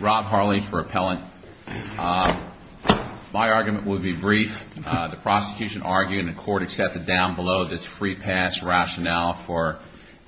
Rob Harley for Appellant. My argument would be brief. The prosecution argued and the court accepted down below this free pass rationale for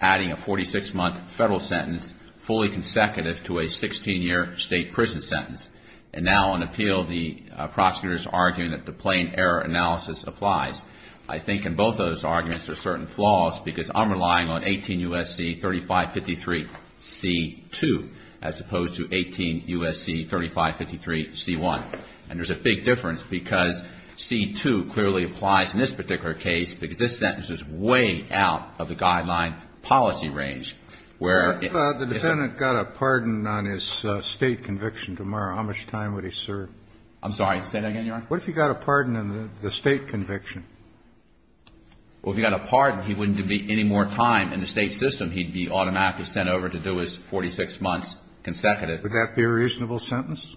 adding a 46-month federal sentence fully consecutive to a 16-year state prison sentence. And now on appeal, the prosecutor is arguing that the plain error analysis applies. I think in both of those arguments there are certain flaws because I'm relying on 18 U.S.C. 3553 C-2 as opposed to 18 U.S.C. 3553 C-1. And there's a big difference because C-2 clearly applies in this particular case because this sentence is way out of the guideline policy range, where it is – If the defendant got a pardon on his state conviction tomorrow, how much time would he serve? I'm sorry, say that again, Your Honor? What if he got a pardon on the state conviction? Well, if he got a pardon, he wouldn't be any more time in the state system. He'd be automatically sent over to do his 46 months consecutive. Would that be a reasonable sentence,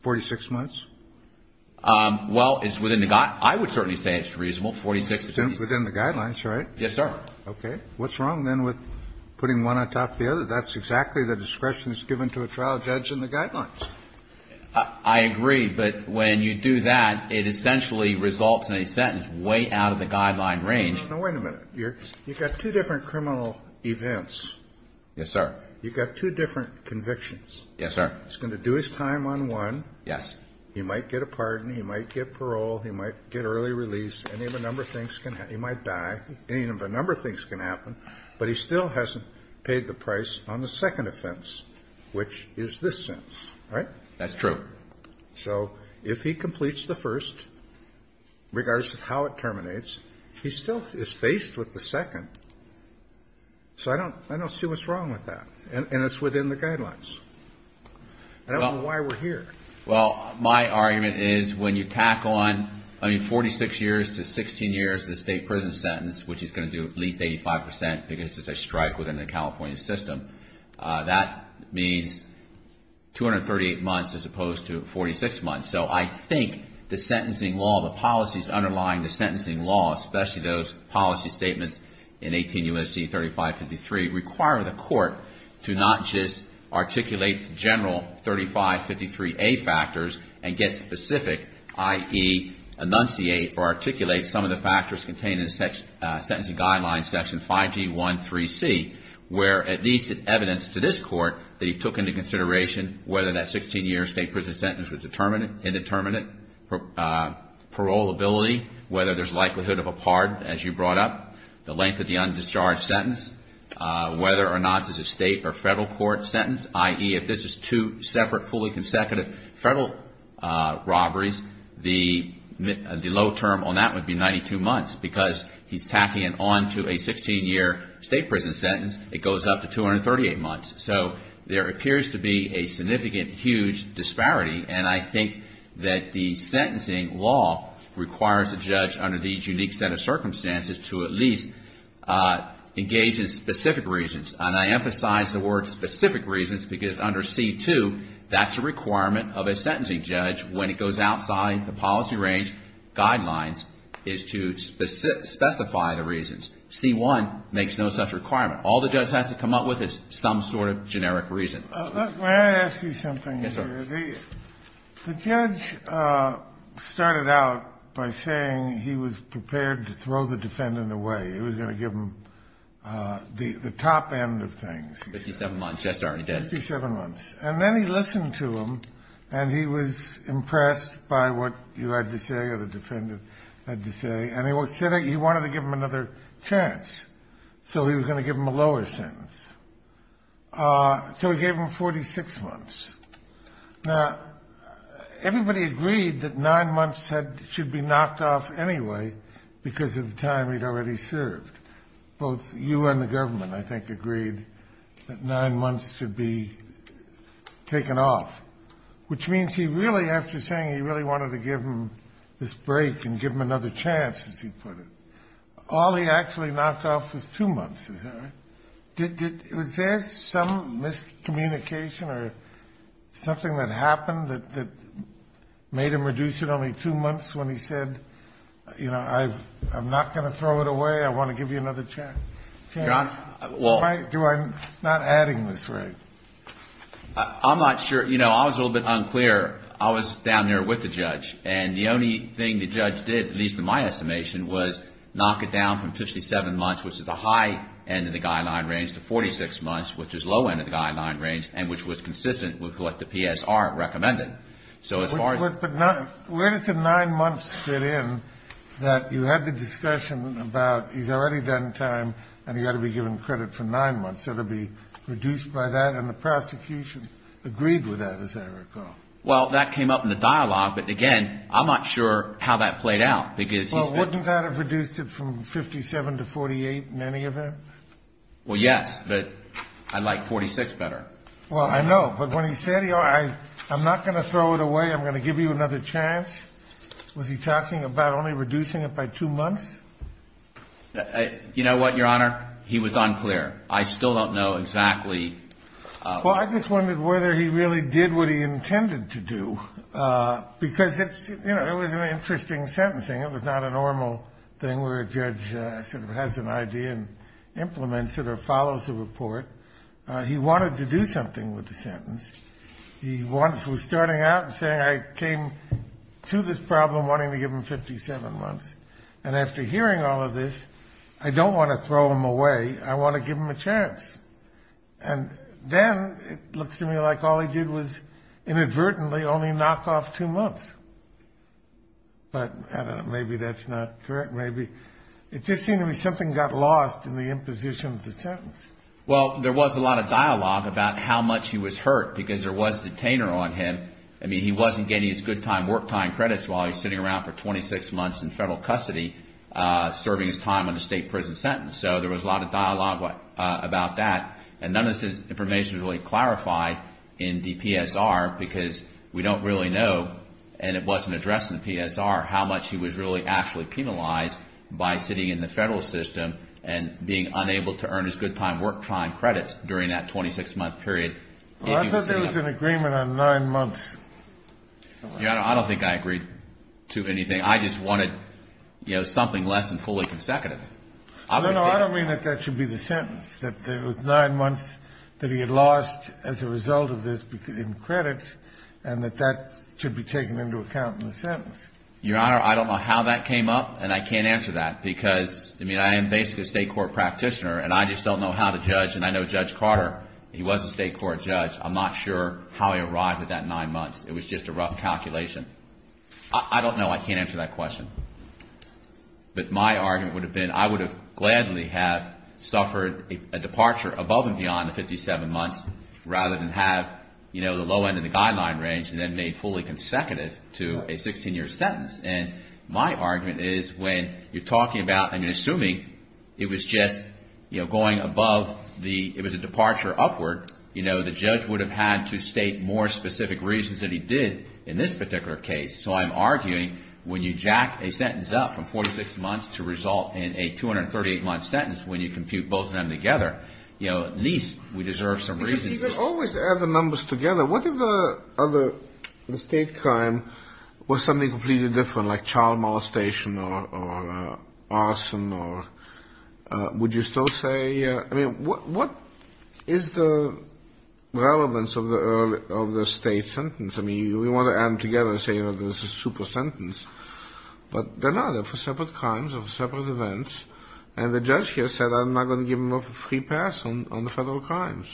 46 months? Well, it's within the – I would certainly say it's reasonable, 46 months. Within the guidelines, right? Yes, sir. Okay. What's wrong then with putting one on top of the other? That's exactly the discretion that's given to a trial judge in the guidelines. I agree, but when you do that, it essentially results in a sentence way out of the guideline range. Now, wait a minute. You've got two different criminal events. Yes, sir. You've got two different convictions. Yes, sir. He's going to do his time on one. Yes. He might get a pardon. He might get parole. He might get early release. Any of a number of things can – he might die. Any of a number of things can happen, but he still hasn't paid the price on the second offense, which is this sentence, right? That's true. So if he completes the first, regardless of how it terminates, he still is faced with the second. So I don't see what's wrong with that, and it's within the guidelines. I don't know why we're here. Well, my argument is when you tack on, I mean, 46 years to 16 years in a state prison sentence, which he's going to do at least 85 percent because it's a strike within the California system, that means 238 months as opposed to 46 months. So I think the sentencing law, the policies underlying the sentencing law, especially those policy statements in 18 U.S.C. 3553, require the court to not just articulate the general 3553A factors and get specific, i.e., enunciate or articulate some of the factors contained in the sentencing guidelines, section 5G13C, where at least it's evidence to this court that he took into consideration whether that 16-year state prison sentence was determined. Indeterminate, paroleability, whether there's likelihood of a pardon, as you brought up, the length of the undischarged sentence, whether or not it's a state or federal court sentence, i.e., if this is two separate, fully consecutive federal robberies, the low term on that would be 92 months. Because he's tacking it on to a 16-year state prison sentence, it goes up to 238 months. So there appears to be a significant, huge disparity, and I think that the sentencing law requires a judge under these unique set of circumstances to at least engage in specific reasons. And I emphasize the word specific reasons because under C-2, that's a requirement of a sentencing judge when it goes outside the policy range guidelines is to specify the reasons. C-1 makes no such requirement. All the judge has to come up with is some sort of generic reason. The judge started out by saying he was prepared to throw the defendant away. It was going to give him the top end of things. Fifty-seven months. Yes, sir, he did. Fifty-seven months. And then he listened to him, and he was impressed by what you had to say or the defendant had to say, and he said he wanted to give him another chance. So he was going to give him a lower sentence. So he gave him 46 months. Now, everybody agreed that nine months should be knocked off anyway because of the time he'd already served. Both you and the government, I think, agreed that nine months should be taken off, which means he really, after saying he really wanted to give him this break and give him another chance, as he put it, all he actually knocked off was two months. Is that right? Was there some miscommunication or something that happened that made him reduce it only two months when he said, you know, I'm not going to throw it away, I want to give you another chance? Why am I not adding this right? I'm not sure. You know, I was a little bit unclear. I was down there with the judge. And the only thing the judge did, at least in my estimation, was knock it down from 57 months, which is the high end of the guideline range, to 46 months, which is the low end of the guideline range, and which was consistent with what the PSR recommended. So as far as the nine months fit in, that you had the discussion about he's already done time and he had to be given credit for nine months. It will be reduced by that, and the prosecution agreed with that, as I recall. Well, that came up in the dialogue. But, again, I'm not sure how that played out. Well, wouldn't that have reduced it from 57 to 48 in any event? Well, yes. But I like 46 better. Well, I know. But when he said, I'm not going to throw it away, I'm going to give you another chance, was he talking about only reducing it by two months? You know what, Your Honor? He was unclear. I still don't know exactly. Well, I just wondered whether he really did what he intended to do, because, you know, it was an interesting sentencing. It was not a normal thing where a judge sort of has an idea and implements it or follows a report. He wanted to do something with the sentence. He was starting out and saying, I came to this problem wanting to give him 57 months, and after hearing all of this, I don't want to throw him away. I want to give him a chance. And then it looks to me like all he did was inadvertently only knock off two months. But, I don't know, maybe that's not correct. Maybe it just seemed to me something got lost in the imposition of the sentence. Well, there was a lot of dialogue about how much he was hurt, because there was a detainer on him. I mean, he wasn't getting his good time work time credits while he was sitting around for 26 months in federal custody serving his time on a state prison sentence. So there was a lot of dialogue about that, and none of this information was really clarified in the PSR, because we don't really know, and it wasn't addressed in the PSR, how much he was really actually penalized by sitting in the federal system and being unable to earn his good time work time credits during that 26-month period. Well, I thought there was an agreement on nine months. Yeah, I don't think I agreed to anything. I just wanted, you know, something less than fully consecutive. No, no, I don't mean that that should be the sentence, that it was nine months that he had lost as a result of this in credits, and that that should be taken into account in the sentence. Your Honor, I don't know how that came up, and I can't answer that, because, I mean, I am basically a state court practitioner, and I just don't know how to judge, and I know Judge Carter, he was a state court judge. I'm not sure how he arrived at that nine months. It was just a rough calculation. I don't know. I can't answer that question. But my argument would have been I would have gladly have suffered a departure above and beyond the 57 months rather than have, you know, the low end in the guideline range and then made fully consecutive to a 16-year sentence. And my argument is when you're talking about and you're assuming it was just, you know, going above the, it was a departure upward, you know, the judge would have had to state more specific reasons than he did in this particular case. So I'm arguing when you jack a sentence up from 46 months to result in a 238-month sentence, when you compute both of them together, you know, at least we deserve some reasons. You always add the numbers together. What if the other, the state crime was something completely different, like child molestation or arson, or would you still say, I mean, what is the relevance of the state sentence? I mean, we want to add them together and say, you know, this is a super sentence. But they're not. They're for separate crimes or separate events. And the judge here said I'm not going to give him a free pass on the federal crimes.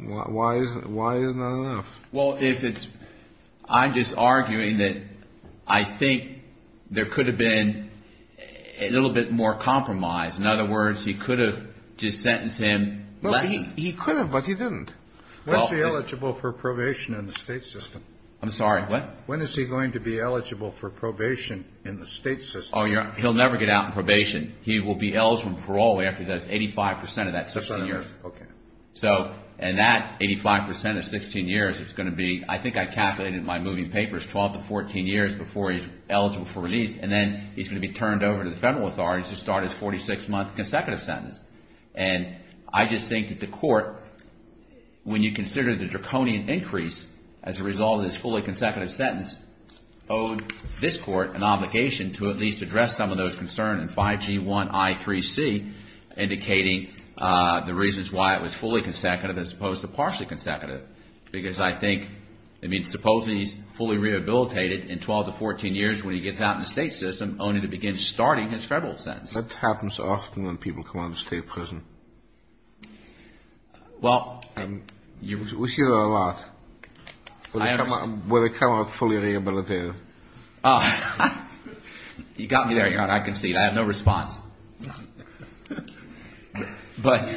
Why is that enough? Well, if it's, I'm just arguing that I think there could have been a little bit more compromise. In other words, he could have just sentenced him less. He could have, but he didn't. When is he eligible for probation in the state system? I'm sorry, what? When is he going to be eligible for probation in the state system? He'll never get out on probation. He will be eligible for parole after he does 85 percent of that 16 years. Okay. So, and that 85 percent of 16 years is going to be, I think I calculated in my moving papers, 12 to 14 years before he's eligible for release. And then he's going to be turned over to the federal authorities to start his 46-month consecutive sentence. And I just think that the court, when you consider the draconian increase as a result of his fully consecutive sentence, owed this court an obligation to at least address some of those concerns in 5G1I3C, indicating the reasons why it was fully consecutive as opposed to partially consecutive. Because I think, I mean, supposing he's fully rehabilitated in 12 to 14 years when he gets out in the state system, only to begin starting his federal sentence. That happens often when people come out of state prison. We see that a lot, where they come out fully rehabilitated. You got me there, Your Honor. I concede. I have no response. But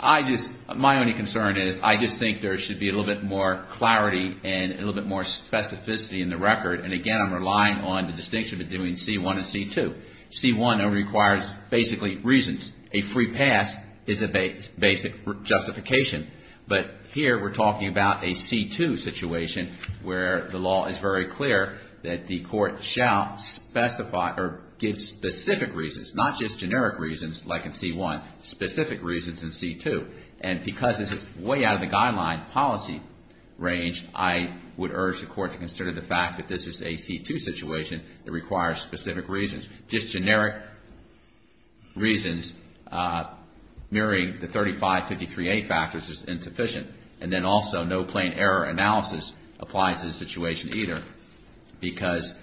I just, my only concern is I just think there should be a little bit more clarity and a little bit more specificity in the record. And, again, I'm relying on the distinction between C1 and C2. C1 requires basically reasons. A free pass is a basic justification. But here we're talking about a C2 situation where the law is very clear that the court shall specify or give specific reasons, not just generic reasons like in C1, specific reasons in C2. And because this is way out of the guideline policy range, I would urge the court to consider the fact that this is a C2 situation that requires specific reasons. Just generic reasons, mirroring the 3553A factors, is insufficient. And then also no plain error analysis applies to this situation either, because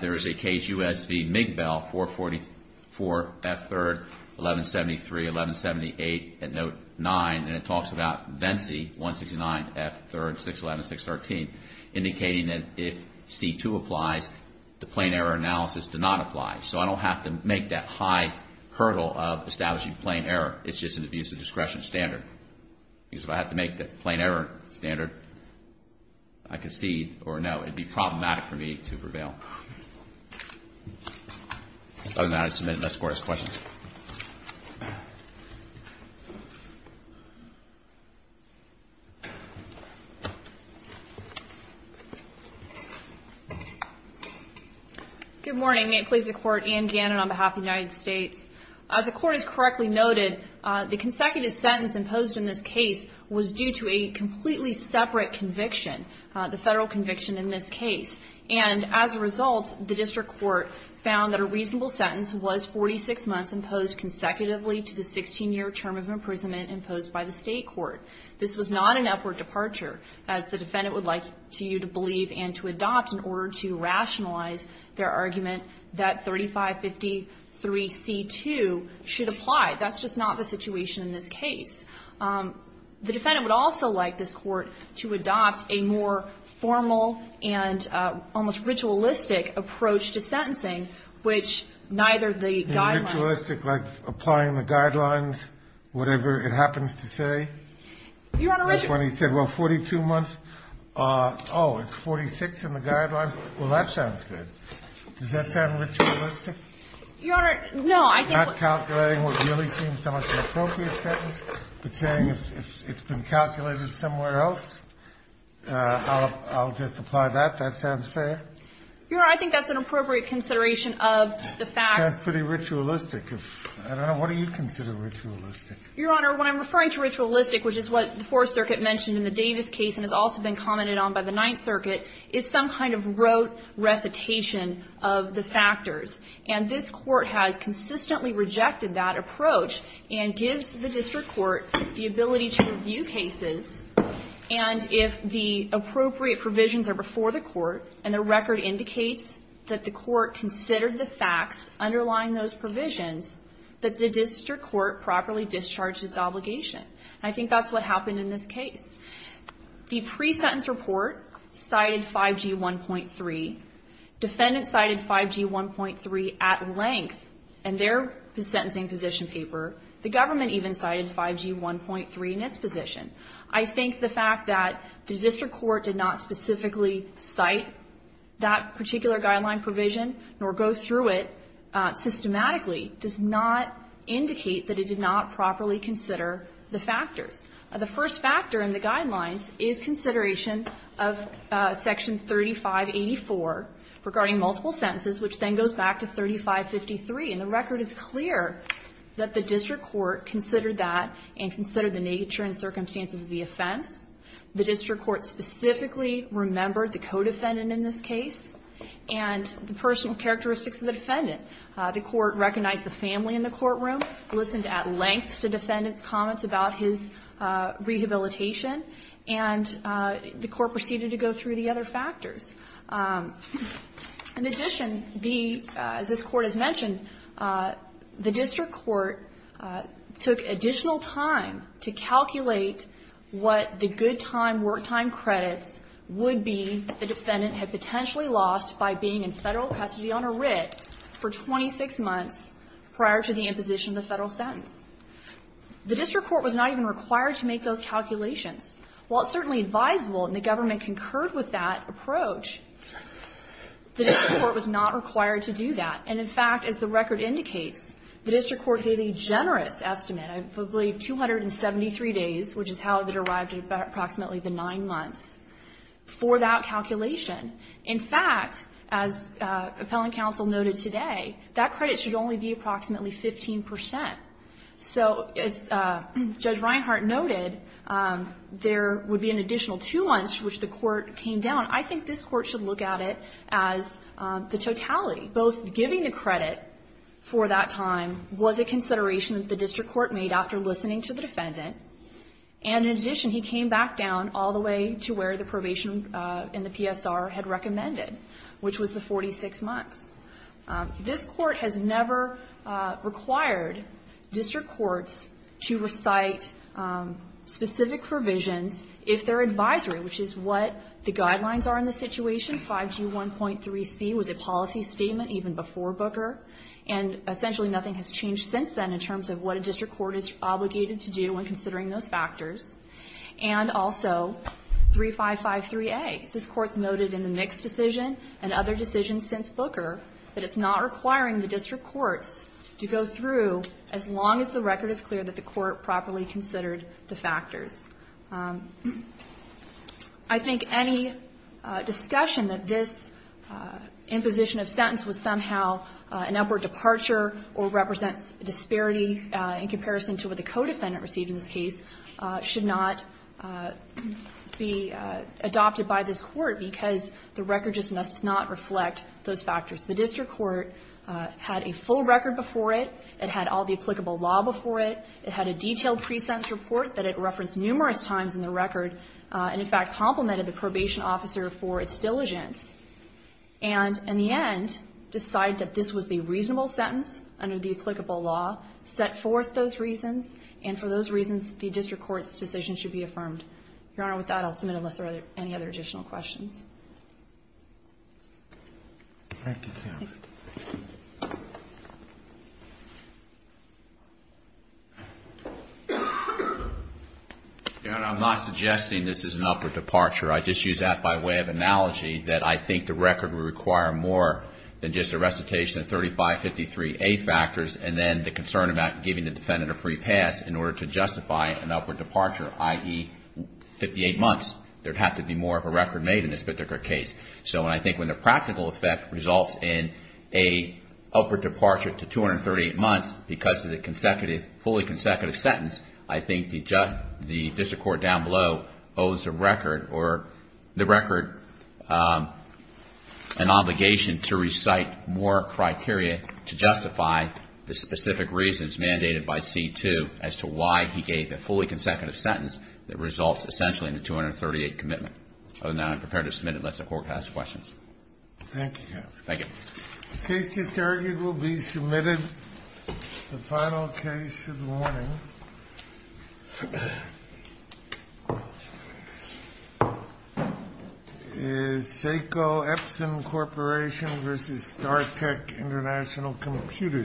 there is a Cajus v. Migbell, 444 F3rd 1173-1178 at Note 9, and it talks about Vensey 169 F3rd 611-613, indicating that if C2 applies, the plain error analysis does not apply. So I don't have to make that high hurdle of establishing plain error. It's just an abuse of discretion standard. Because if I have to make the plain error standard, I concede or no, it would be problematic for me to prevail. Other than that, I submit and escort as questions. Good morning. May it please the Court, Anne Gannon on behalf of the United States. As the Court has correctly noted, the consecutive sentence imposed in this case was due to a completely separate conviction, the federal conviction in this case. And as a result, the district court found that a reasonable sentence was 46 months imposed consecutively to the 16-year term of imprisonment imposed by the state court. This was not an upward departure, as the defendant would like you to believe and to adopt in order to rationalize their argument that 3553C2 should apply. That's just not the situation in this case. The defendant would also like this Court to adopt a more formal and almost ritualistic approach to sentencing, which neither the guidelines ---- Ritualistic, like applying the guidelines, whatever it happens to say? Your Honor, ritualistic. That's when he said, well, 42 months, oh, it's 46 in the guidelines. Well, that sounds good. Does that sound ritualistic? Your Honor, no. Not calculating what really seems to be an appropriate sentence, but saying it's been calculated somewhere else. I'll just apply that. That sounds fair? Your Honor, I think that's an appropriate consideration of the facts. Sounds pretty ritualistic. I don't know. What do you consider ritualistic? Your Honor, when I'm referring to ritualistic, which is what the Fourth Circuit mentioned in the Davis case and has also been commented on by the Ninth Circuit, is some kind of rote recitation of the factors. And this Court has consistently rejected that approach and gives the district court the ability to review cases, and if the appropriate provisions are before the court and the record indicates that the court considered the facts underlying those provisions, that the district court properly discharges the obligation. I think that's what happened in this case. The pre-sentence report cited 5G1.3. Defendants cited 5G1.3 at length in their sentencing position paper. The government even cited 5G1.3 in its position. I think the fact that the district court did not specifically cite that particular guideline provision nor go through it systematically does not indicate that it did not properly consider the factors. The first factor in the guidelines is consideration of Section 3584 regarding multiple sentences, which then goes back to 3553. And the record is clear that the district court considered that and considered the nature and circumstances of the offense. The district court specifically remembered the co-defendant in this case and the personal characteristics of the defendant. The court recognized the family in the courtroom, listened at length to the defendant's comments about his rehabilitation, and the court proceeded to go through the other factors. In addition, as this Court has mentioned, the district court took additional time to calculate what the good-time, work-time credits would be the defendant had potentially lost by being in Federal custody on a writ for 26 months prior to the imposition of the Federal sentence. The district court was not even required to make those calculations. While it's certainly advisable and the government concurred with that approach, the district court was not required to do that. And, in fact, as the record indicates, the district court gave a generous estimate, I believe 273 days, which is how it arrived at approximately the nine months, for that calculation. In fact, as Appellant Counsel noted today, that credit should only be approximately 15 percent. So as Judge Reinhart noted, there would be an additional two months which the court came down. I think this Court should look at it as the totality. Both giving the credit for that time was a consideration that the district court made after listening to the defendant. And, in addition, he came back down all the way to where the probation and the PSR had recommended, which was the 46 months. This Court has never required district courts to recite specific provisions if they're advisory, which is what the guidelines are in the situation. Section 5G1.3c was a policy statement even before Booker, and essentially nothing has changed since then in terms of what a district court is obligated to do when considering those factors. And also 3553a. This Court's noted in the Nix decision and other decisions since Booker that it's not requiring the district courts to go through as long as the record is clear that the court properly considered the factors. I think any discussion that this imposition of sentence was somehow an upward departure or represents disparity in comparison to what the co-defendant received in this case should not be adopted by this Court because the record just must not reflect those factors. The district court had a full record before it. It had all the applicable law before it. It had a detailed pre-sentence report that it referenced numerous times in the record and, in fact, complimented the probation officer for its diligence. And in the end, decide that this was a reasonable sentence under the applicable law, set forth those reasons, and for those reasons, the district court's decision should be affirmed. Your Honor, with that, I'll submit unless there are any other additional questions. Thank you, counsel. Your Honor, I'm not suggesting this is an upward departure. I just use that by way of analogy that I think the record would require more than just a recitation of 3553A factors and then the concern about giving the defendant a free pass in order to justify an upward departure, i.e., 58 months. There'd have to be more of a record made in this particular case. So I think when the practical effect results in an upward departure to 238 months because of the fully consecutive sentence, I think the district court down below owes the record an obligation to recite more criteria to justify the specific reasons mandated by C-2 as to why he gave a fully consecutive sentence that results essentially in a 238 commitment. Other than that, I'm prepared to submit unless the court has questions. Thank you, counsel. Thank you. The case just argued will be submitted. The final case of the morning is Seiko Epson Corporation v. Star Tech International Computer Supplies.